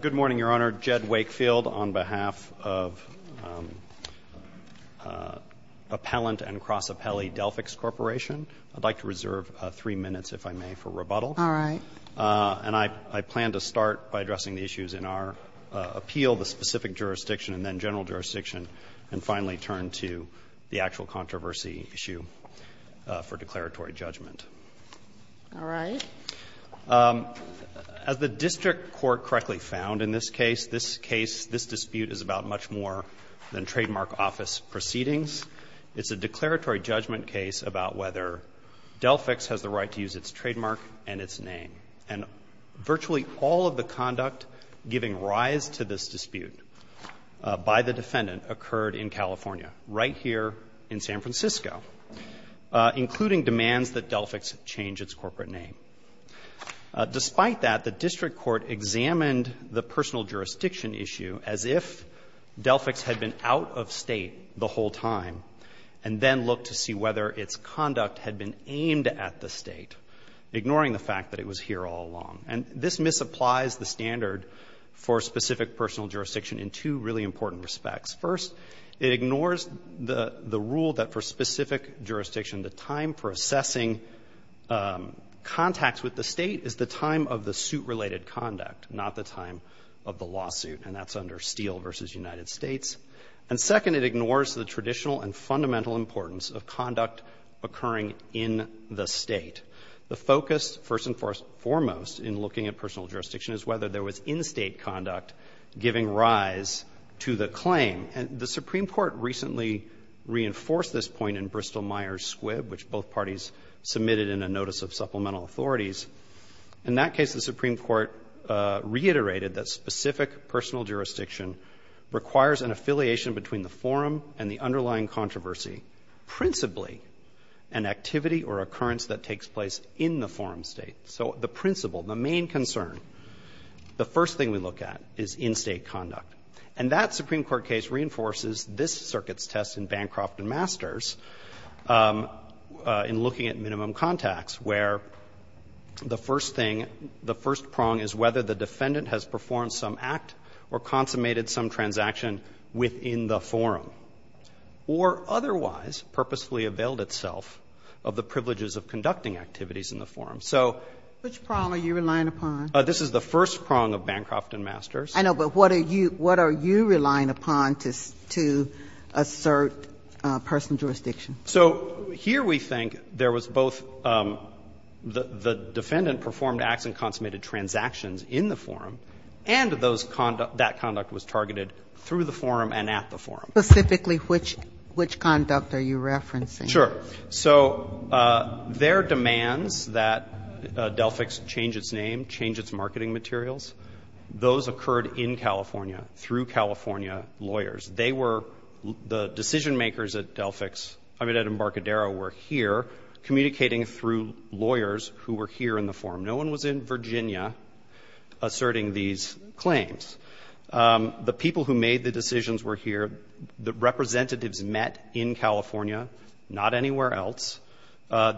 Good morning, Your Honor. Jed Wakefield on behalf of Appellant and Cross-Appellee Delphix Corporation. I'd like to reserve three minutes, if I may, for rebuttal. All right. And I plan to start by addressing the issues in our appeal, the specific jurisdiction and then general jurisdiction, and finally turn to the actual controversy issue for declaratory judgment. All right. As the district court correctly found in this case, this case, this dispute is about much more than trademark office proceedings. It's a declaratory judgment case about whether Delphix has the right to use its trademark and its name. And virtually all of the conduct giving rise to this dispute by the defendant occurred in California, right here in San Francisco, including demands that Delphix change its corporate name. Despite that, the district court examined the personal jurisdiction issue as if Delphix had been out of State the whole time and then looked to see whether its conduct had been aimed at the State, ignoring the fact that it was here all along. And this misapplies the standard for specific personal jurisdiction in two really important respects. First, it ignores the rule that for specific jurisdiction, the time for assessing contacts with the State is the time of the suit-related conduct, not the time of the lawsuit. And that's under Steele v. United States. And second, it ignores the traditional and fundamental importance of conduct occurring in the State. The focus, first and foremost, in looking at personal jurisdiction is whether there was in-State conduct giving rise to the claim. And the Supreme Court recently reinforced this point in Bristol-Myers-Squibb, which both parties submitted in a notice of supplemental authorities. In that case, the Supreme Court reiterated that specific personal jurisdiction requires an affiliation between the forum and the underlying controversy, principally an activity or occurrence that takes place in the forum State. So the principle, the main concern, the first thing we look at is in-State conduct. And that Supreme Court case reinforces this Circuit's test in Bancroft v. Masters in looking at minimum contacts, where the first thing, the first prong is whether the defendant has performed some act or consummated some transaction within the forum, or otherwise purposefully availed itself of the privileges of conducting activities in the forum. So this is the first prong of Bancroft v. Masters. I know, but what are you relying upon to assert personal jurisdiction? So here we think there was both the defendant performed acts and consummated transactions in the forum, and that conduct was targeted through the forum and at the forum. Specifically which conduct are you referencing? Sure. So their demands that Delphix change its name, change its marketing materials, those occurred in California through California lawyers. They were the decision-makers at Delphix, I mean at Embarcadero, were here communicating through lawyers who were here in the forum. No one was in Virginia asserting these claims. The people who made the decisions were here. The representatives met in California, not anywhere else.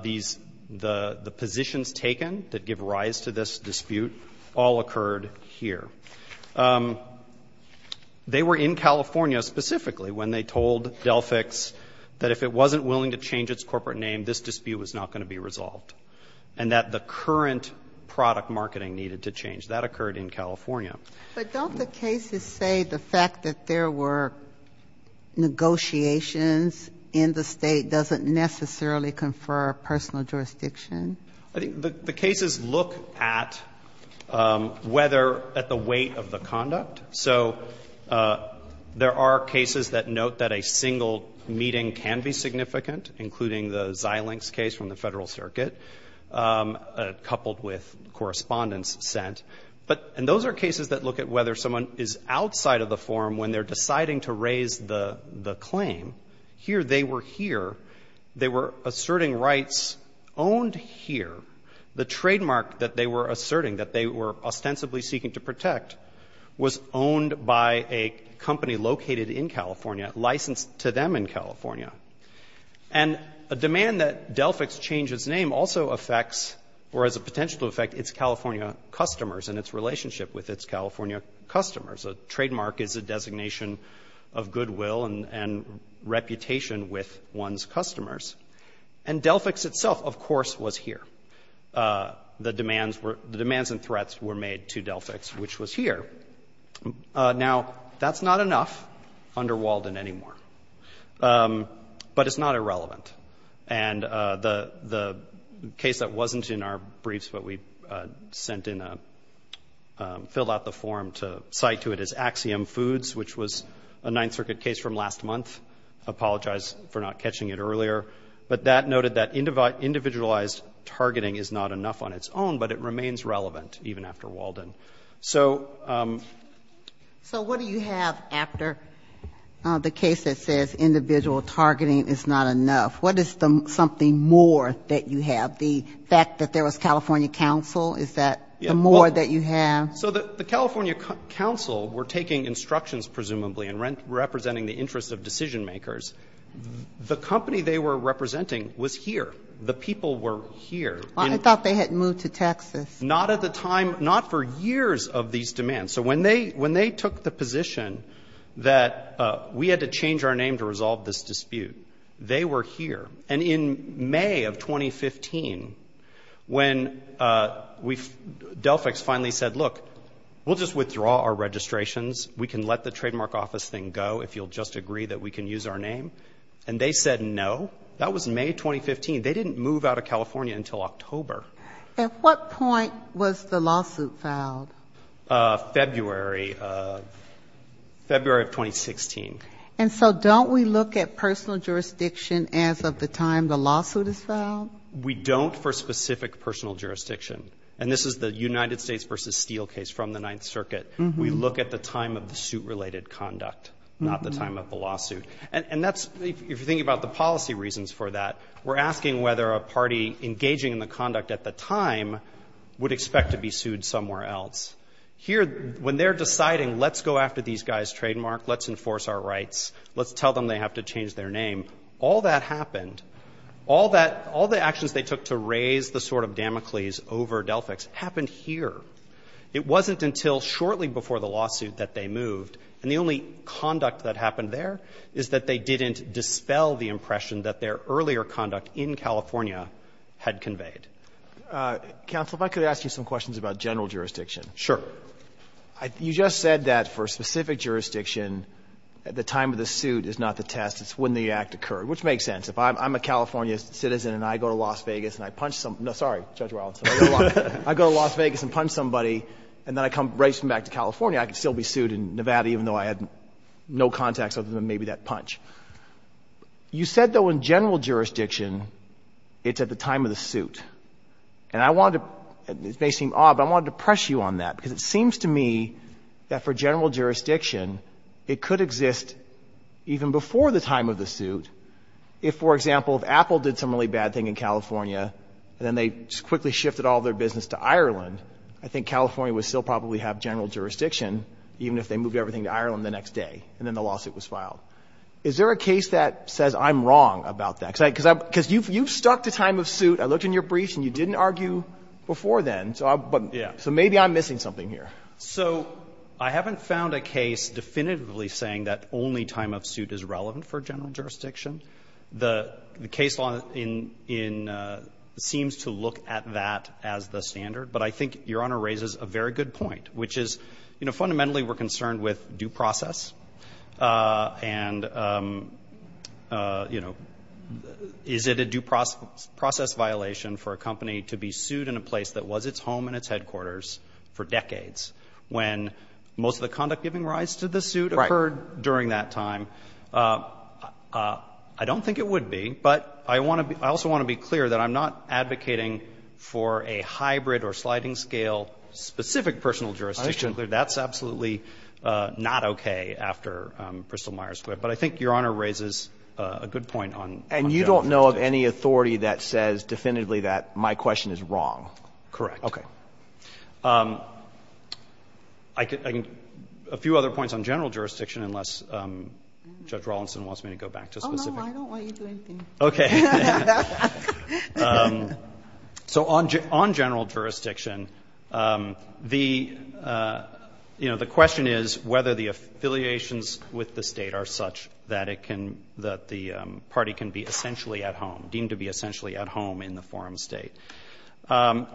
These the positions taken that give rise to this dispute all occurred here. They were in California specifically when they told Delphix that if it wasn't willing to change its corporate name, this dispute was not going to be resolved, and that the current product marketing needed to change. That occurred in California. But don't the cases say the fact that there were negotiations in the State doesn't necessarily confer personal jurisdiction? I think the cases look at whether at the weight of the conduct. So there are cases that note that a single meeting can be significant, including the Xilinx case from the Federal Circuit, coupled with correspondence sent, and those are cases that look at whether someone is outside of the forum when they're deciding to raise the claim. Here they were here. They were asserting rights owned here. The trademark that they were asserting, that they were ostensibly seeking to protect, was owned by a company located in California, licensed to them in California. And a demand that Delphix change its name also affects, or has a potential to affect, its California customers and its relationship with its California customers. A trademark is a designation of goodwill and reputation with one's customers. And Delphix itself, of course, was here. The demands and threats were made to Delphix, which was here. Now, that's not enough under Walden anymore. But it's not irrelevant. And the case that wasn't in our briefs, but we sent in, filled out the form to cite to it, is Axiom Foods, which was a Ninth Circuit case from last month. I apologize for not catching it earlier. But that noted that individualized targeting is not enough on its own, but it remains relevant, even after Walden. So what do you have after the case that says individual targeting is not enough? What is something more that you have? The fact that there was California counsel? Is that the more that you have? So the California counsel were taking instructions, presumably, and representing the interests of decision-makers. The company they were representing was here. The people were here. I thought they had moved to Texas. Not at the time, not for years of these demands. So when they took the position that we had to change our name to resolve this dispute, they were here. And in May of 2015, when Delphix finally said, look, we'll just withdraw our registrations. We can let the trademark office thing go, if you'll just agree that we can use our name. And they said no. That was May 2015. They didn't move out of California until October. At what point was the lawsuit filed? February. February of 2016. And so don't we look at personal jurisdiction as of the time the lawsuit is filed? We don't for specific personal jurisdiction. And this is the United States v. Steele case from the Ninth Circuit. We look at the time of the suit-related conduct, not the time of the lawsuit. And that's, if you're thinking about the policy reasons for that, we're asking whether a party engaging in the conduct at the time would expect to be sued somewhere else. Here, when they're deciding, let's go after these guys' trademark, let's enforce our rights, let's tell them they have to change their name, all that happened, all the actions they took to raise the sword of Damocles over Delphix happened here. It wasn't until shortly before the lawsuit that they moved. And the only conduct that happened there is that they didn't dispel the impression that their earlier conduct in California had conveyed. Counsel, if I could ask you some questions about general jurisdiction. Sure. You just said that for specific jurisdiction, the time of the suit is not the test. It's when the act occurred, which makes sense. If I'm a California citizen and I go to Las Vegas and I punch some — no, sorry, Judge Wildson, I go to Las Vegas and punch somebody, and then I come right back to California, I could still be sued in Nevada even though I had no contacts other than maybe that punch. You said, though, in general jurisdiction, it's at the time of the suit. And I wanted to — this may seem odd, but I wanted to press you on that because it seems to me that for general jurisdiction, it could exist even before the time of the suit if, for example, if Apple did some really bad thing in California and then they quickly shifted all their business to Ireland, I think California would still probably have general jurisdiction even if they moved everything to Ireland the next day and then the lawsuit was filed. Is there a case that says I'm wrong about that? Because you've stuck to time of suit. I looked in your briefs and you didn't argue before then. So maybe I'm missing something here. So I haven't found a case definitively saying that only time of suit is relevant for general jurisdiction. The case law in — seems to look at that as the standard. But I think Your Honor raises a very good point, which is, you know, fundamentally we're concerned with due process. And, you know, is it a due process violation for a company to be sued in a place that was its home and its headquarters for decades when most of the conduct giving rise to the suit occurred during that time? I don't think it would be. But I also want to be clear that I'm not advocating for a hybrid or sliding scale specific personal jurisdiction. That's absolutely not okay after Bristol-Myers Squibb. But I think Your Honor raises a good point on general jurisdiction. And you don't know of any authority that says definitively that my question is wrong? Correct. Okay. I can — a few other points on general jurisdiction unless Judge Rawlinson wants me to go back to specific. I don't want you to do anything. So on general jurisdiction, the, you know, the question is whether the affiliations with the State are such that it can — that the party can be essentially at home, deemed to be essentially at home in the forum State.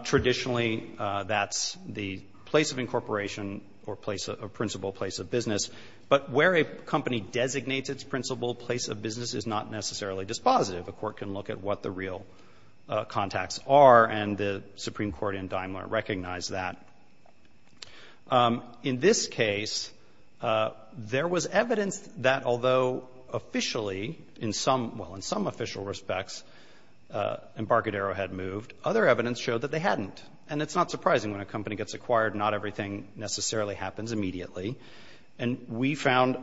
Traditionally, that's the place of incorporation or principle place of business. But where a company designates its principle place of business is not necessarily dispositive. A court can look at what the real contacts are. And the Supreme Court in Daimler recognized that. In this case, there was evidence that although officially, in some — well, in some official respects, Embarcadero had moved. Other evidence showed that they hadn't. And it's not surprising when a company gets acquired, not everything necessarily happens immediately. And we found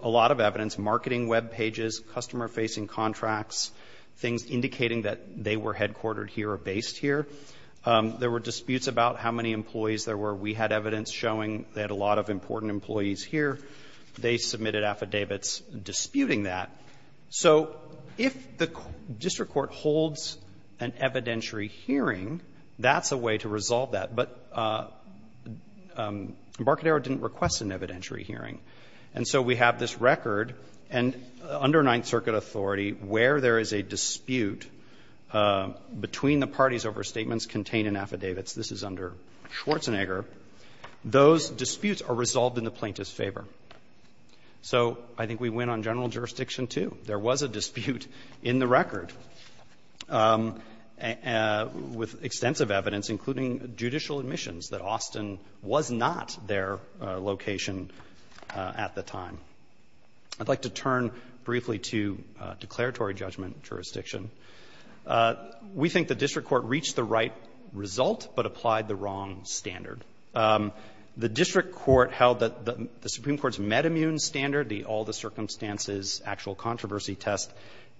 a lot of evidence, marketing web pages, customer-facing contracts, things indicating that they were headquartered here or based here. There were disputes about how many employees there were. We had evidence showing they had a lot of important employees here. They submitted affidavits disputing that. So if the district court holds an evidentiary hearing, that's a way to resolve But Embarcadero didn't request an evidentiary hearing. And so we have this record. And under Ninth Circuit authority, where there is a dispute between the parties over statements contained in affidavits, this is under Schwarzenegger, those disputes are resolved in the plaintiff's favor. So I think we win on general jurisdiction, too. There was a dispute in the record with extensive evidence, including judicial admissions, that Austin was not their location at the time. I'd like to turn briefly to declaratory judgment jurisdiction. We think the district court reached the right result but applied the wrong standard. The district court held that the Supreme Court's met immune standard, the all the circumstances actual controversy test,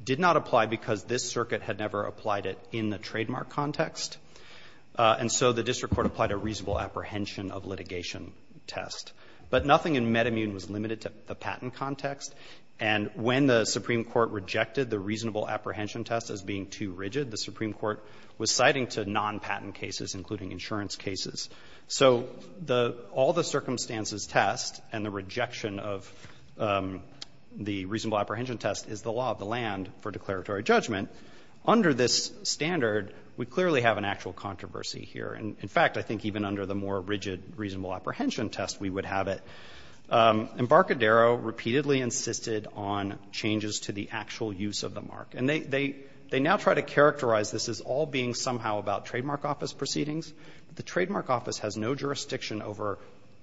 did not apply because this circuit had never applied it in the trademark context. And so the district court applied a reasonable apprehension of litigation test. But nothing in met immune was limited to the patent context. And when the Supreme Court rejected the reasonable apprehension test as being too rigid, the Supreme Court was citing to non-patent cases, including insurance cases. So the all the circumstances test and the rejection of the reasonable apprehension test is the law of the land for declaratory judgment. Under this standard, we clearly have an actual controversy here. In fact, I think even under the more rigid reasonable apprehension test, we would have it. Embarcadero repeatedly insisted on changes to the actual use of the mark. And they now try to characterize this as all being somehow about trademark office proceedings. The trademark office has no jurisdiction over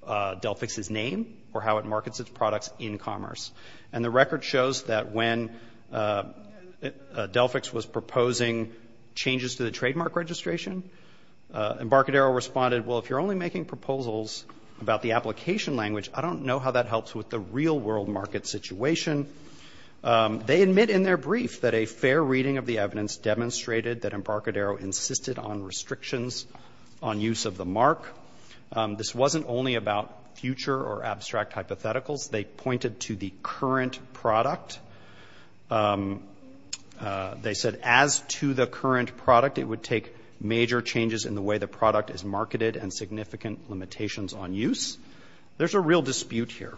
Delphix's name or how it markets its products in commerce. And the record shows that when Delphix was proposing changes to the trademark registration, Embarcadero responded, well, if you're only making proposals about the application language, I don't know how that helps with the real world market situation. They admit in their brief that a fair reading of the evidence demonstrated that Embarcadero insisted on restrictions on use of the mark. This wasn't only about future or abstract hypotheticals. They pointed to the current product. They said as to the current product, it would take major changes in the way the product is marketed and significant limitations on use. There's a real dispute here.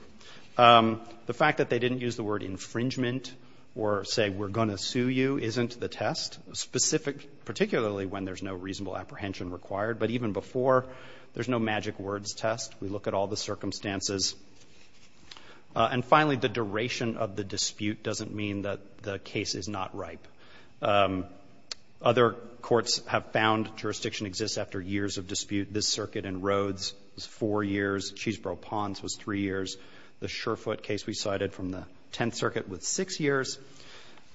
The fact that they didn't use the word infringement or say we're going to sue you isn't the test, specific particularly when there's no reasonable apprehension required. But even before, there's no magic words test. We look at all the circumstances. And finally, the duration of the dispute doesn't mean that the case is not ripe. Other courts have found jurisdiction exists after years of dispute. This circuit in Rhodes was four years. Cheeseboro Ponds was three years. The Surefoot case we cited from the Tenth Circuit was six years.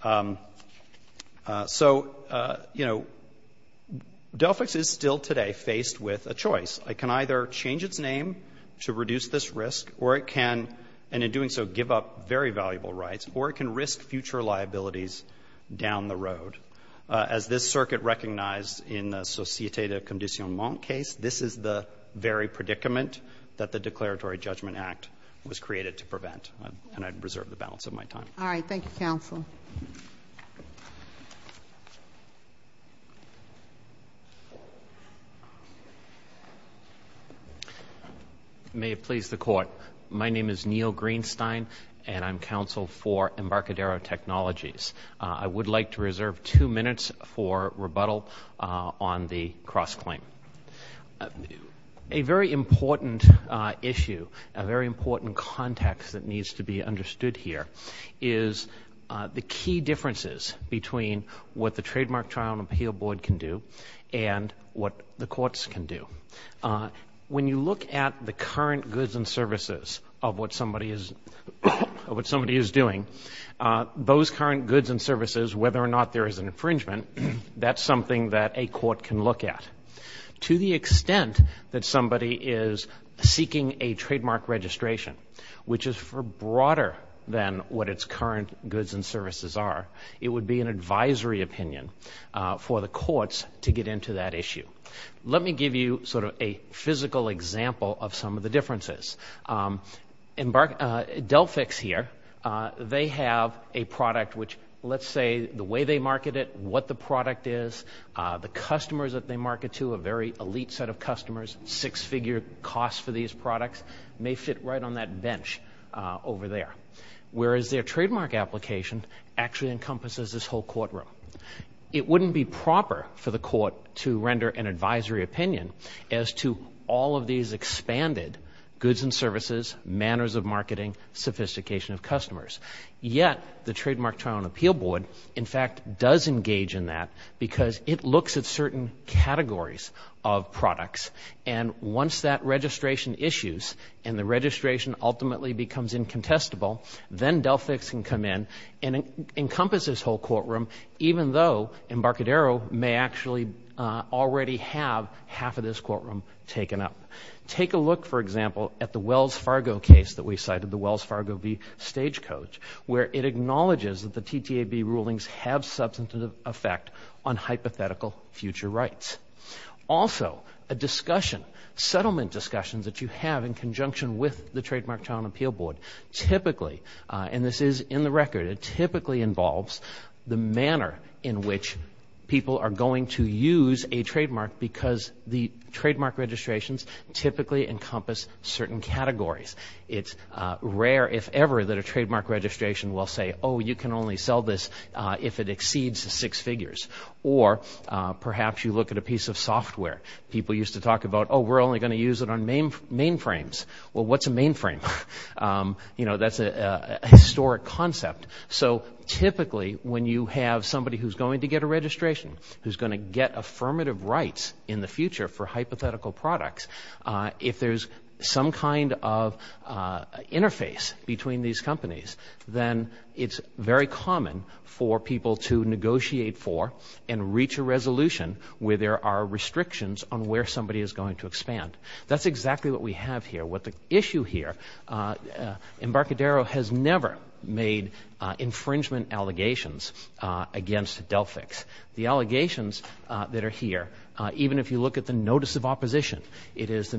So, you know, Delphix is still today faced with a choice. It can either change its name to reduce this risk, or it can, and in doing so, give up very valuable rights, or it can risk future liabilities down the road. As this circuit recognized in the Société de Conditionnement case, this is the very predicament that the Declaratory Judgment Act was created to prevent. And I'd reserve the balance of my time. All right. Thank you, counsel. May it please the Court. My name is Neil Greenstein, and I'm counsel for Embarcadero Technologies. I would like to reserve two minutes for rebuttal on the cross-claim. A very important issue, a very important context that needs to be understood here is the key differences between what the Trademark Trial and Appeal Board can do and what the courts can do. When you look at the current goods and services of what somebody is doing, those current goods and services, whether or not there is an infringement, that's something that a court can look at. To the extent that somebody is seeking a trademark registration, which is broader than what its current goods and services are, it would be an advisory opinion for the courts to get into that issue. Let me give you sort of a physical example of some of the differences. Delphix here, they have a product which, let's say the way they market it, what the product is, the customers that they market to, a very elite set of customers, six-figure costs for these products, may fit right on that bench over there. Whereas their trademark application actually encompasses this whole courtroom. It wouldn't be proper for the court to render an advisory opinion as to all of these expanded goods and services, manners of marketing, sophistication of customers. Yet the Trademark Trial and Appeal Board, in fact, does engage in that because it looks at certain categories of products. And once that registration issues and the registration ultimately becomes incontestable, then Delphix can come in and encompass this whole courtroom, even though Embarcadero may actually already have half of this courtroom taken up. Take a look, for example, at the Wells Fargo case that we cited, the Wells Fargo v. Stagecoach, where it acknowledges that the TTAB rulings have substantive effect on hypothetical future rights. Also, a discussion, settlement discussions that you have in conjunction with the Trademark Trial and Appeal Board, typically, and this is in the record, it typically involves the manner in which people are going to use a trademark because the trademark registrations typically encompass certain categories. It's rare, if ever, that a trademark registration will say, oh, you can only sell this if it exceeds six figures. Or perhaps you look at a piece of software. People used to talk about, oh, we're only going to use it on mainframes. Well, what's a mainframe? You know, that's a historic concept. So typically, when you have somebody who's going to get a registration, who's going to get affirmative rights in the future for hypothetical products, if there's some kind of interface between these companies, then it's very common for people to negotiate for and reach a resolution where there are restrictions on where somebody is going to expand. That's exactly what we have here. What the issue here, Embarcadero has never made infringement allegations against Delphix. The allegations that are here, even if you look at the notice of opposition, it is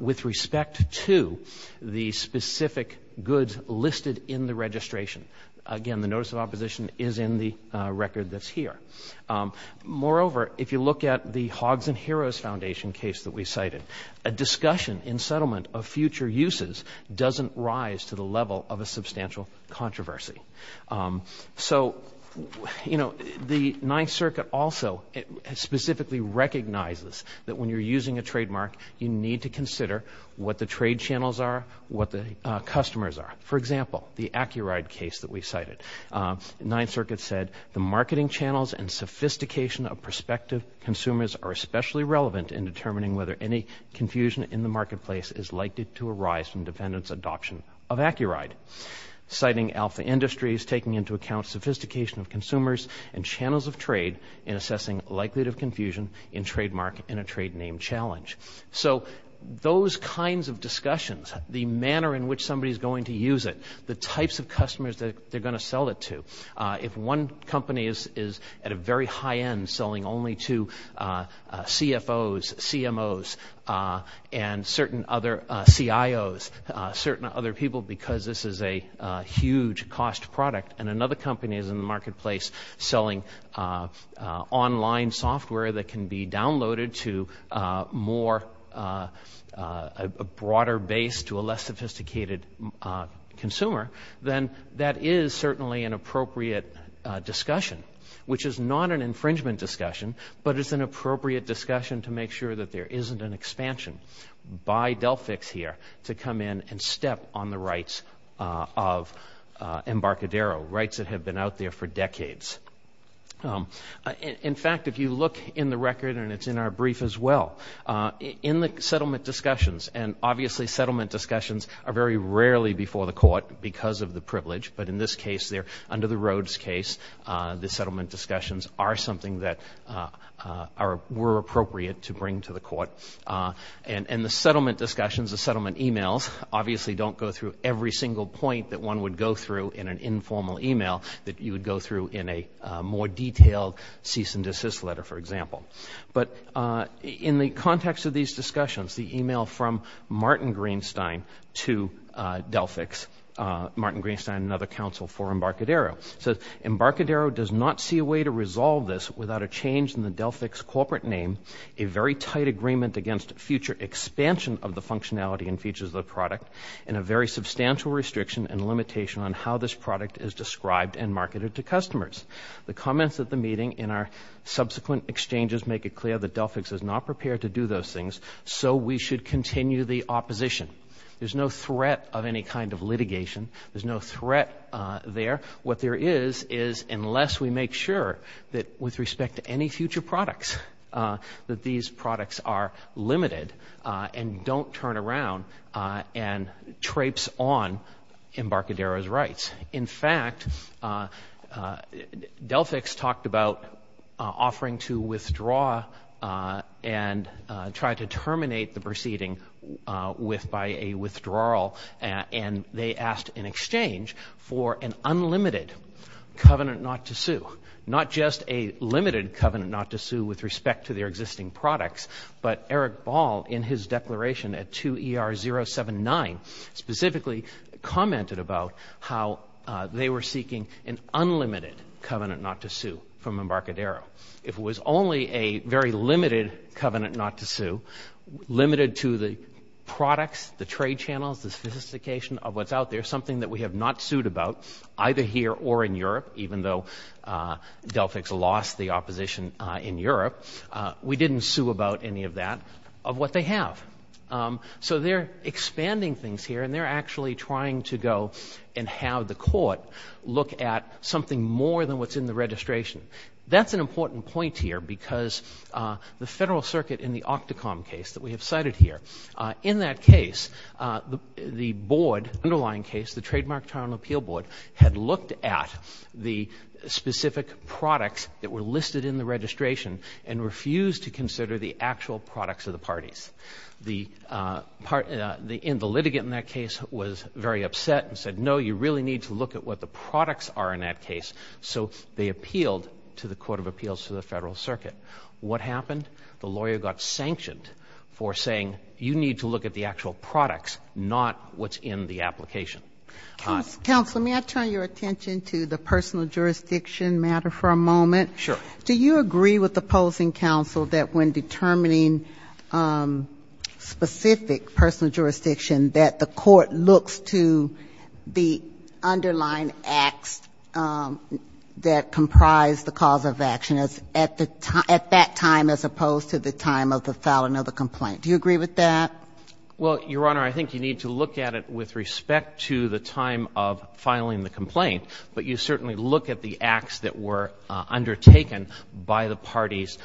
with respect to the specific goods listed in the registration. Again, the notice of opposition is in the record that's here. Moreover, if you look at the Hogs and Heroes Foundation case that we cited, a discussion in settlement of future uses doesn't rise to the level of a substantial controversy. So, you know, the Ninth Circuit also specifically recognizes that when you're using a trademark, you need to consider what the trade channels are, what the customers are. For example, the AcuRide case that we cited. The Ninth Circuit said, the marketing channels and sophistication of prospective consumers are especially relevant in determining whether any confusion in the marketplace is likely to arise from defendants' adoption of AcuRide. Citing alpha industries, taking into account sophistication of consumers and channels of trade in assessing likelihood of confusion in trademark in a trade name challenge. So those kinds of discussions, the manner in which somebody is going to use it, the types of customers that they're going to sell it to. If one company is at a very high end selling only to CFOs, CMOs, and certain other CIOs, certain other people, because this is a huge cost product, and another company is in the marketplace selling online software that can be downloaded to a broader base to a less sophisticated consumer, then that is certainly an appropriate discussion. Which is not an infringement discussion, but it's an appropriate discussion to make sure that there isn't an expansion by Delphix here to come in and step on the rights of Embarcadero, rights that have been out there for decades. In fact, if you look in the record, and it's in our brief as well, in the settlement discussions, and obviously settlement discussions are very rarely before the court because of the privilege, but in this case they're under the Rhodes case. The settlement discussions are something that were appropriate to bring to the court. And the settlement discussions, the settlement emails, obviously don't go through every single point that one would go through in an informal email that you would go through in a more detailed cease and desist letter, for example. But in the context of these discussions, the email from Martin Greenstein to Delphix, Martin Greenstein and another counsel for Embarcadero, says Embarcadero does not see a way to resolve this without a change in the Delphix corporate name, a very tight agreement against future expansion of the functionality and features of the product, and a very substantial restriction and limitation on how this product is described and marketed to customers. The comments at the meeting and our subsequent exchanges make it clear that Delphix is not prepared to do those things, so we should continue the opposition. There's no threat of any kind of litigation. There's no threat there. What there is, is unless we make sure that with respect to any future products, that these products are limited and don't turn around and traipse on Embarcadero's rights. In fact, Delphix talked about offering to withdraw and try to terminate the proceeding by a withdrawal, and they asked in exchange for an unlimited covenant not to sue. Not just a limited covenant not to sue with respect to their existing products, but Eric Ball, in his declaration at 2ER079, specifically commented about how they were seeking an unlimited covenant not to sue from Embarcadero. If it was only a very limited covenant not to sue, limited to the products, the trade channels, the sophistication of what's out there, something that we have not sued about, either here or in Europe, even though Delphix lost the opposition in Europe, we didn't sue about any of that, of what they have. So they're expanding things here, and they're actually trying to go and have the court look at something more than what's in the registration. That's an important point here because the Federal Circuit in the OCTACOM case that we have cited here, in that case, the underlying case, the Trademark, Trial, and Appeal Board, had looked at the specific products that were listed in the registration and refused to consider the actual products of the parties. The litigant in that case was very upset and said, no, you really need to look at what the products are in that case. So they appealed to the Court of Appeals to the Federal Circuit. What happened? The lawyer got sanctioned for saying, you need to look at the actual products, not what's in the application. Counsel, may I turn your attention to the personal jurisdiction matter for a moment? Sure. Do you agree with opposing counsel that when determining specific personal jurisdiction, that the court looks to the underlying acts that comprise the cause of action at that time, as opposed to the time of the filing of the complaint? Do you agree with that? Well, Your Honor, I think you need to look at it with respect to the time of filing the complaint, but you certainly look at the acts that were undertaken by the parties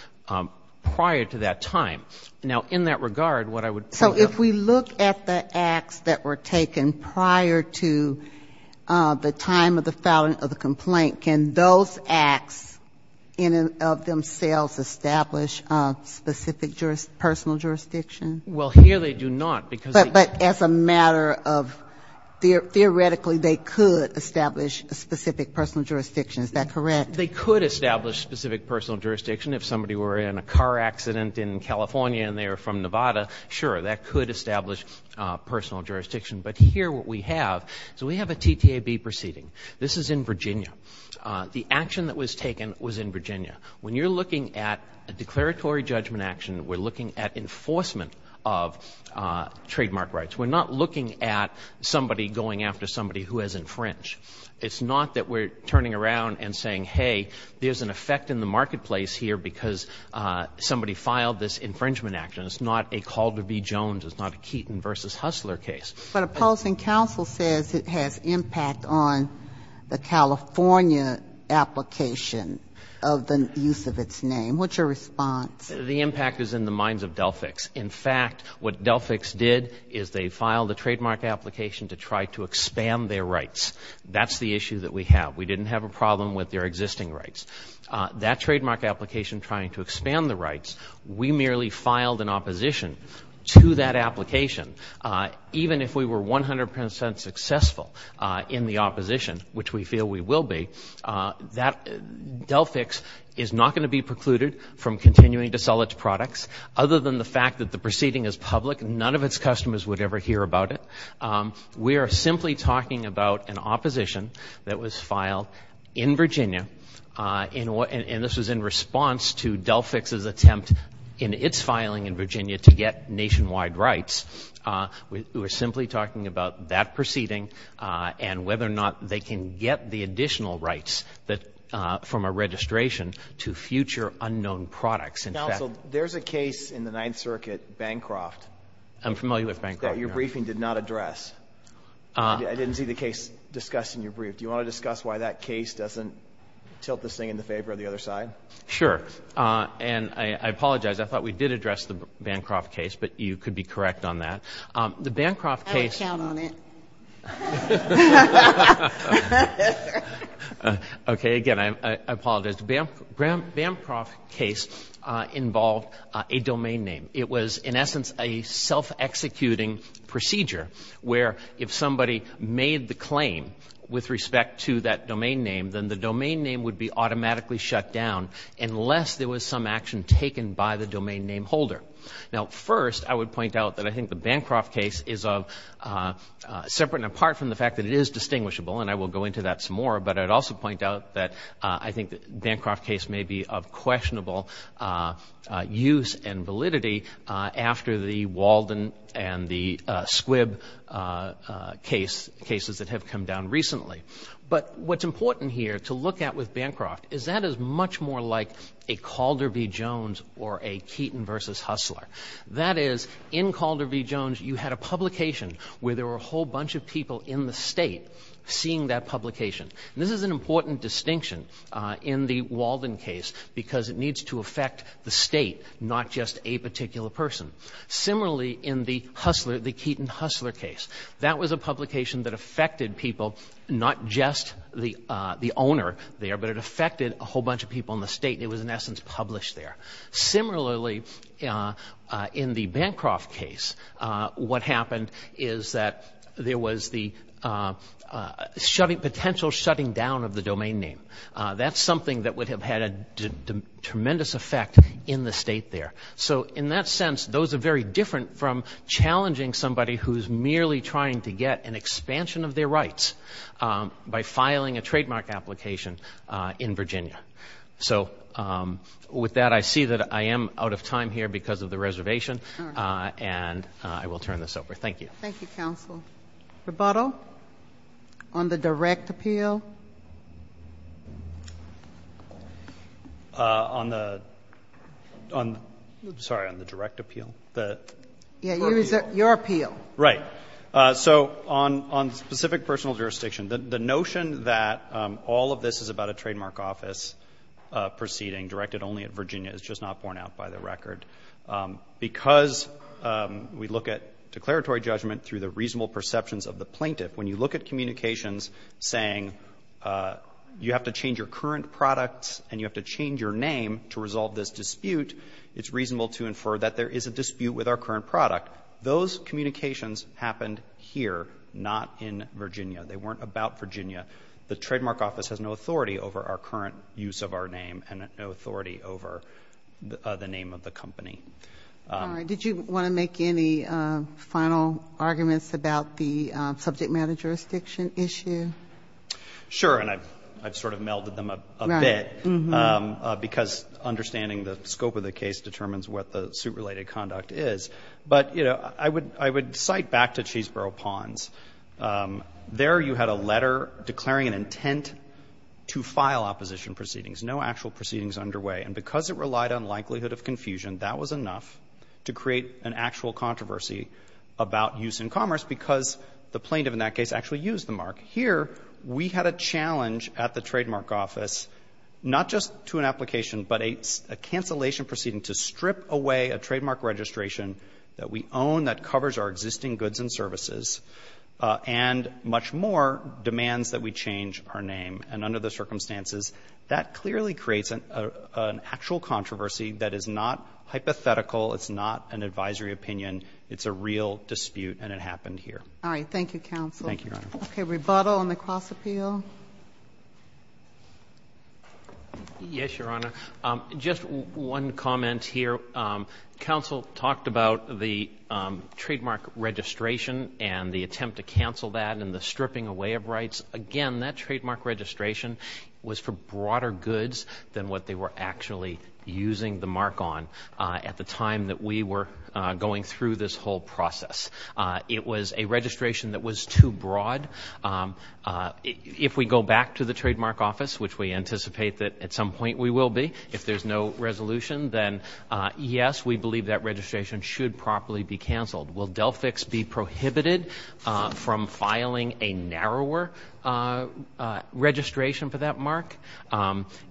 prior to that time. Now, in that regard, what I would point out to you is that the court is looking at the underlying acts, the acts that were taken prior to the time of the filing of the complaint. Can those acts in and of themselves establish specific personal jurisdiction? Well, here they do not, because they can't. But as a matter of, theoretically, they could establish specific personal jurisdiction. Is that correct? They could establish specific personal jurisdiction. If somebody were in a car accident in California and they were from Nevada, sure, that could establish personal jurisdiction. But here what we have is we have a TTAB proceeding. This is in Virginia. The action that was taken was in Virginia. When you're looking at a declaratory judgment action, we're looking at enforcement of trademark rights. We're not looking at somebody going after somebody who has infringed. It's not that we're turning around and saying, hey, there's an effect in the marketplace here because somebody filed this infringement action. It's not a Calder v. Jones. It's not a Keaton v. Hustler case. But opposing counsel says it has impact on the California application of the use of its name. What's your response? The impact is in the minds of Delphix. In fact, what Delphix did is they filed a trademark application to try to expand their rights. That's the issue that we have. We didn't have a problem with their existing rights. That trademark application trying to expand the rights, we merely filed an opposition to that application. Even if we were 100 percent successful in the opposition, which we feel we will be, Delphix is not going to be precluded from continuing to sell its products. Other than the fact that the proceeding is public, none of its customers would ever hear about it. We are simply talking about an opposition that was filed in Virginia, and this was in response to Delphix's attempt in its filing in Virginia to get nationwide rights. We're simply talking about that proceeding and whether or not they can get the additional rights from a registration to future unknown products. Counsel, there's a case in the Ninth Circuit, Bancroft. I'm familiar with Bancroft. That your briefing did not address. I didn't see the case discussed in your brief. Do you want to discuss why that case doesn't tilt this thing in the favor of the other side? Sure. And I apologize. I thought we did address the Bancroft case, but you could be correct on that. The Bancroft case. I don't count on it. Okay. Again, I apologize. The Bancroft case involved a domain name. It was, in essence, a self-executing procedure where if somebody made the claim with respect to that domain name, then the domain name would be automatically shut down unless there was some action taken by the domain name holder. Now, first, I would point out that I think the Bancroft case is separate and apart from the fact that it is distinguishable, and I will go into that some more, but I'd also point out that I think the Bancroft case may be of questionable use and validity after the Walden and the Squibb cases that have come down recently. But what's important here to look at with Bancroft is that is much more like a Calder v. Jones or a Keaton v. Hustler. That is, in Calder v. Jones, you had a publication where there were a whole bunch of people in the state seeing that publication, and this is an important distinction in the Walden case because it needs to affect the state, not just a particular person. Similarly, in the Hustler, the Keaton-Hustler case, that was a publication that affected people, not just the owner there, but it affected a whole bunch of people in the state, and it was, in essence, published there. Similarly, in the Bancroft case, what happened is that there was the potential shutting down of the domain name. That's something that would have had a tremendous effect in the state there. So in that sense, those are very different from challenging somebody who's merely trying to get an expansion of their rights by filing a trademark application in Virginia. So with that, I see that I am out of time here because of the reservation, and I will turn this over. Thank you. Thank you, counsel. Rebuttal on the direct appeal? On the direct appeal? Yeah, your appeal. Right. So on specific personal jurisdiction, the notion that all of this is about a trademark office proceeding directed only at Virginia is just not borne out by the record. Because we look at declaratory judgment through the reasonable perceptions of the plaintiff, when you look at communications saying you have to change your current products and you have to change your name to resolve this dispute, it's reasonable to infer that there is a dispute with our current product. Those communications happened here, not in Virginia. They weren't about Virginia. The trademark office has no authority over our current use of our name and no authority over the name of the company. All right. Did you want to make any final arguments about the subject matter jurisdiction issue? Sure. And I've sort of melded them a bit because understanding the scope of the case determines what the suit-related conduct is. But, you know, I would cite back to Cheeseboro Ponds. There you had a letter declaring an intent to file opposition proceedings. No actual proceedings underway. And because it relied on likelihood of confusion, that was enough to create an actual controversy about use in commerce, because the plaintiff in that case actually used the mark. Here we had a challenge at the trademark office, not just to an application, but a cancellation proceeding to strip away a trademark registration that we own that covers our existing goods and services, and much more demands that we change our name. And under those circumstances, that clearly creates an actual controversy that is not hypothetical. It's not an advisory opinion. It's a real dispute, and it happened here. All right. Thank you, counsel. Thank you, Your Honor. Okay. Rebuttal on the Cross Appeal. Yes, Your Honor. Just one comment here. Counsel talked about the trademark registration and the attempt to cancel that and the stripping away of rights. Again, that trademark registration was for broader goods than what they were actually using the mark on at the time that we were going through this whole process. It was a registration that was too broad. If we go back to the trademark office, which we anticipate that at some point we will be, if there's no resolution, then yes, we believe that registration should properly be canceled. Will Delfix be prohibited from filing a narrower registration for that mark?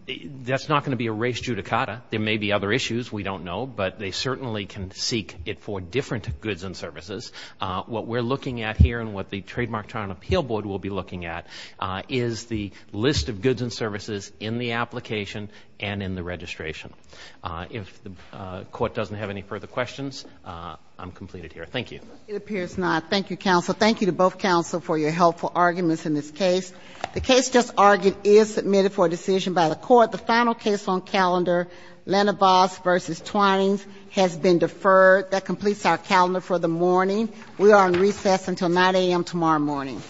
That's not going to be a race judicata. There may be other issues. We don't know. But they certainly can seek it for different goods and services. What we're looking at here and what the Trademark Trial and Appeal Board will be looking at is the list of goods and services in the application and in the registration. If the court doesn't have any further questions, I'm completed here. Thank you. It appears not. Thank you, counsel. Thank you to both counsel for your helpful arguments in this case. The case just argued is submitted for decision by the court. The final case on calendar, Lenovas v. Twines, has been deferred. That completes our calendar for the morning. We are on recess until 9 a.m. tomorrow morning.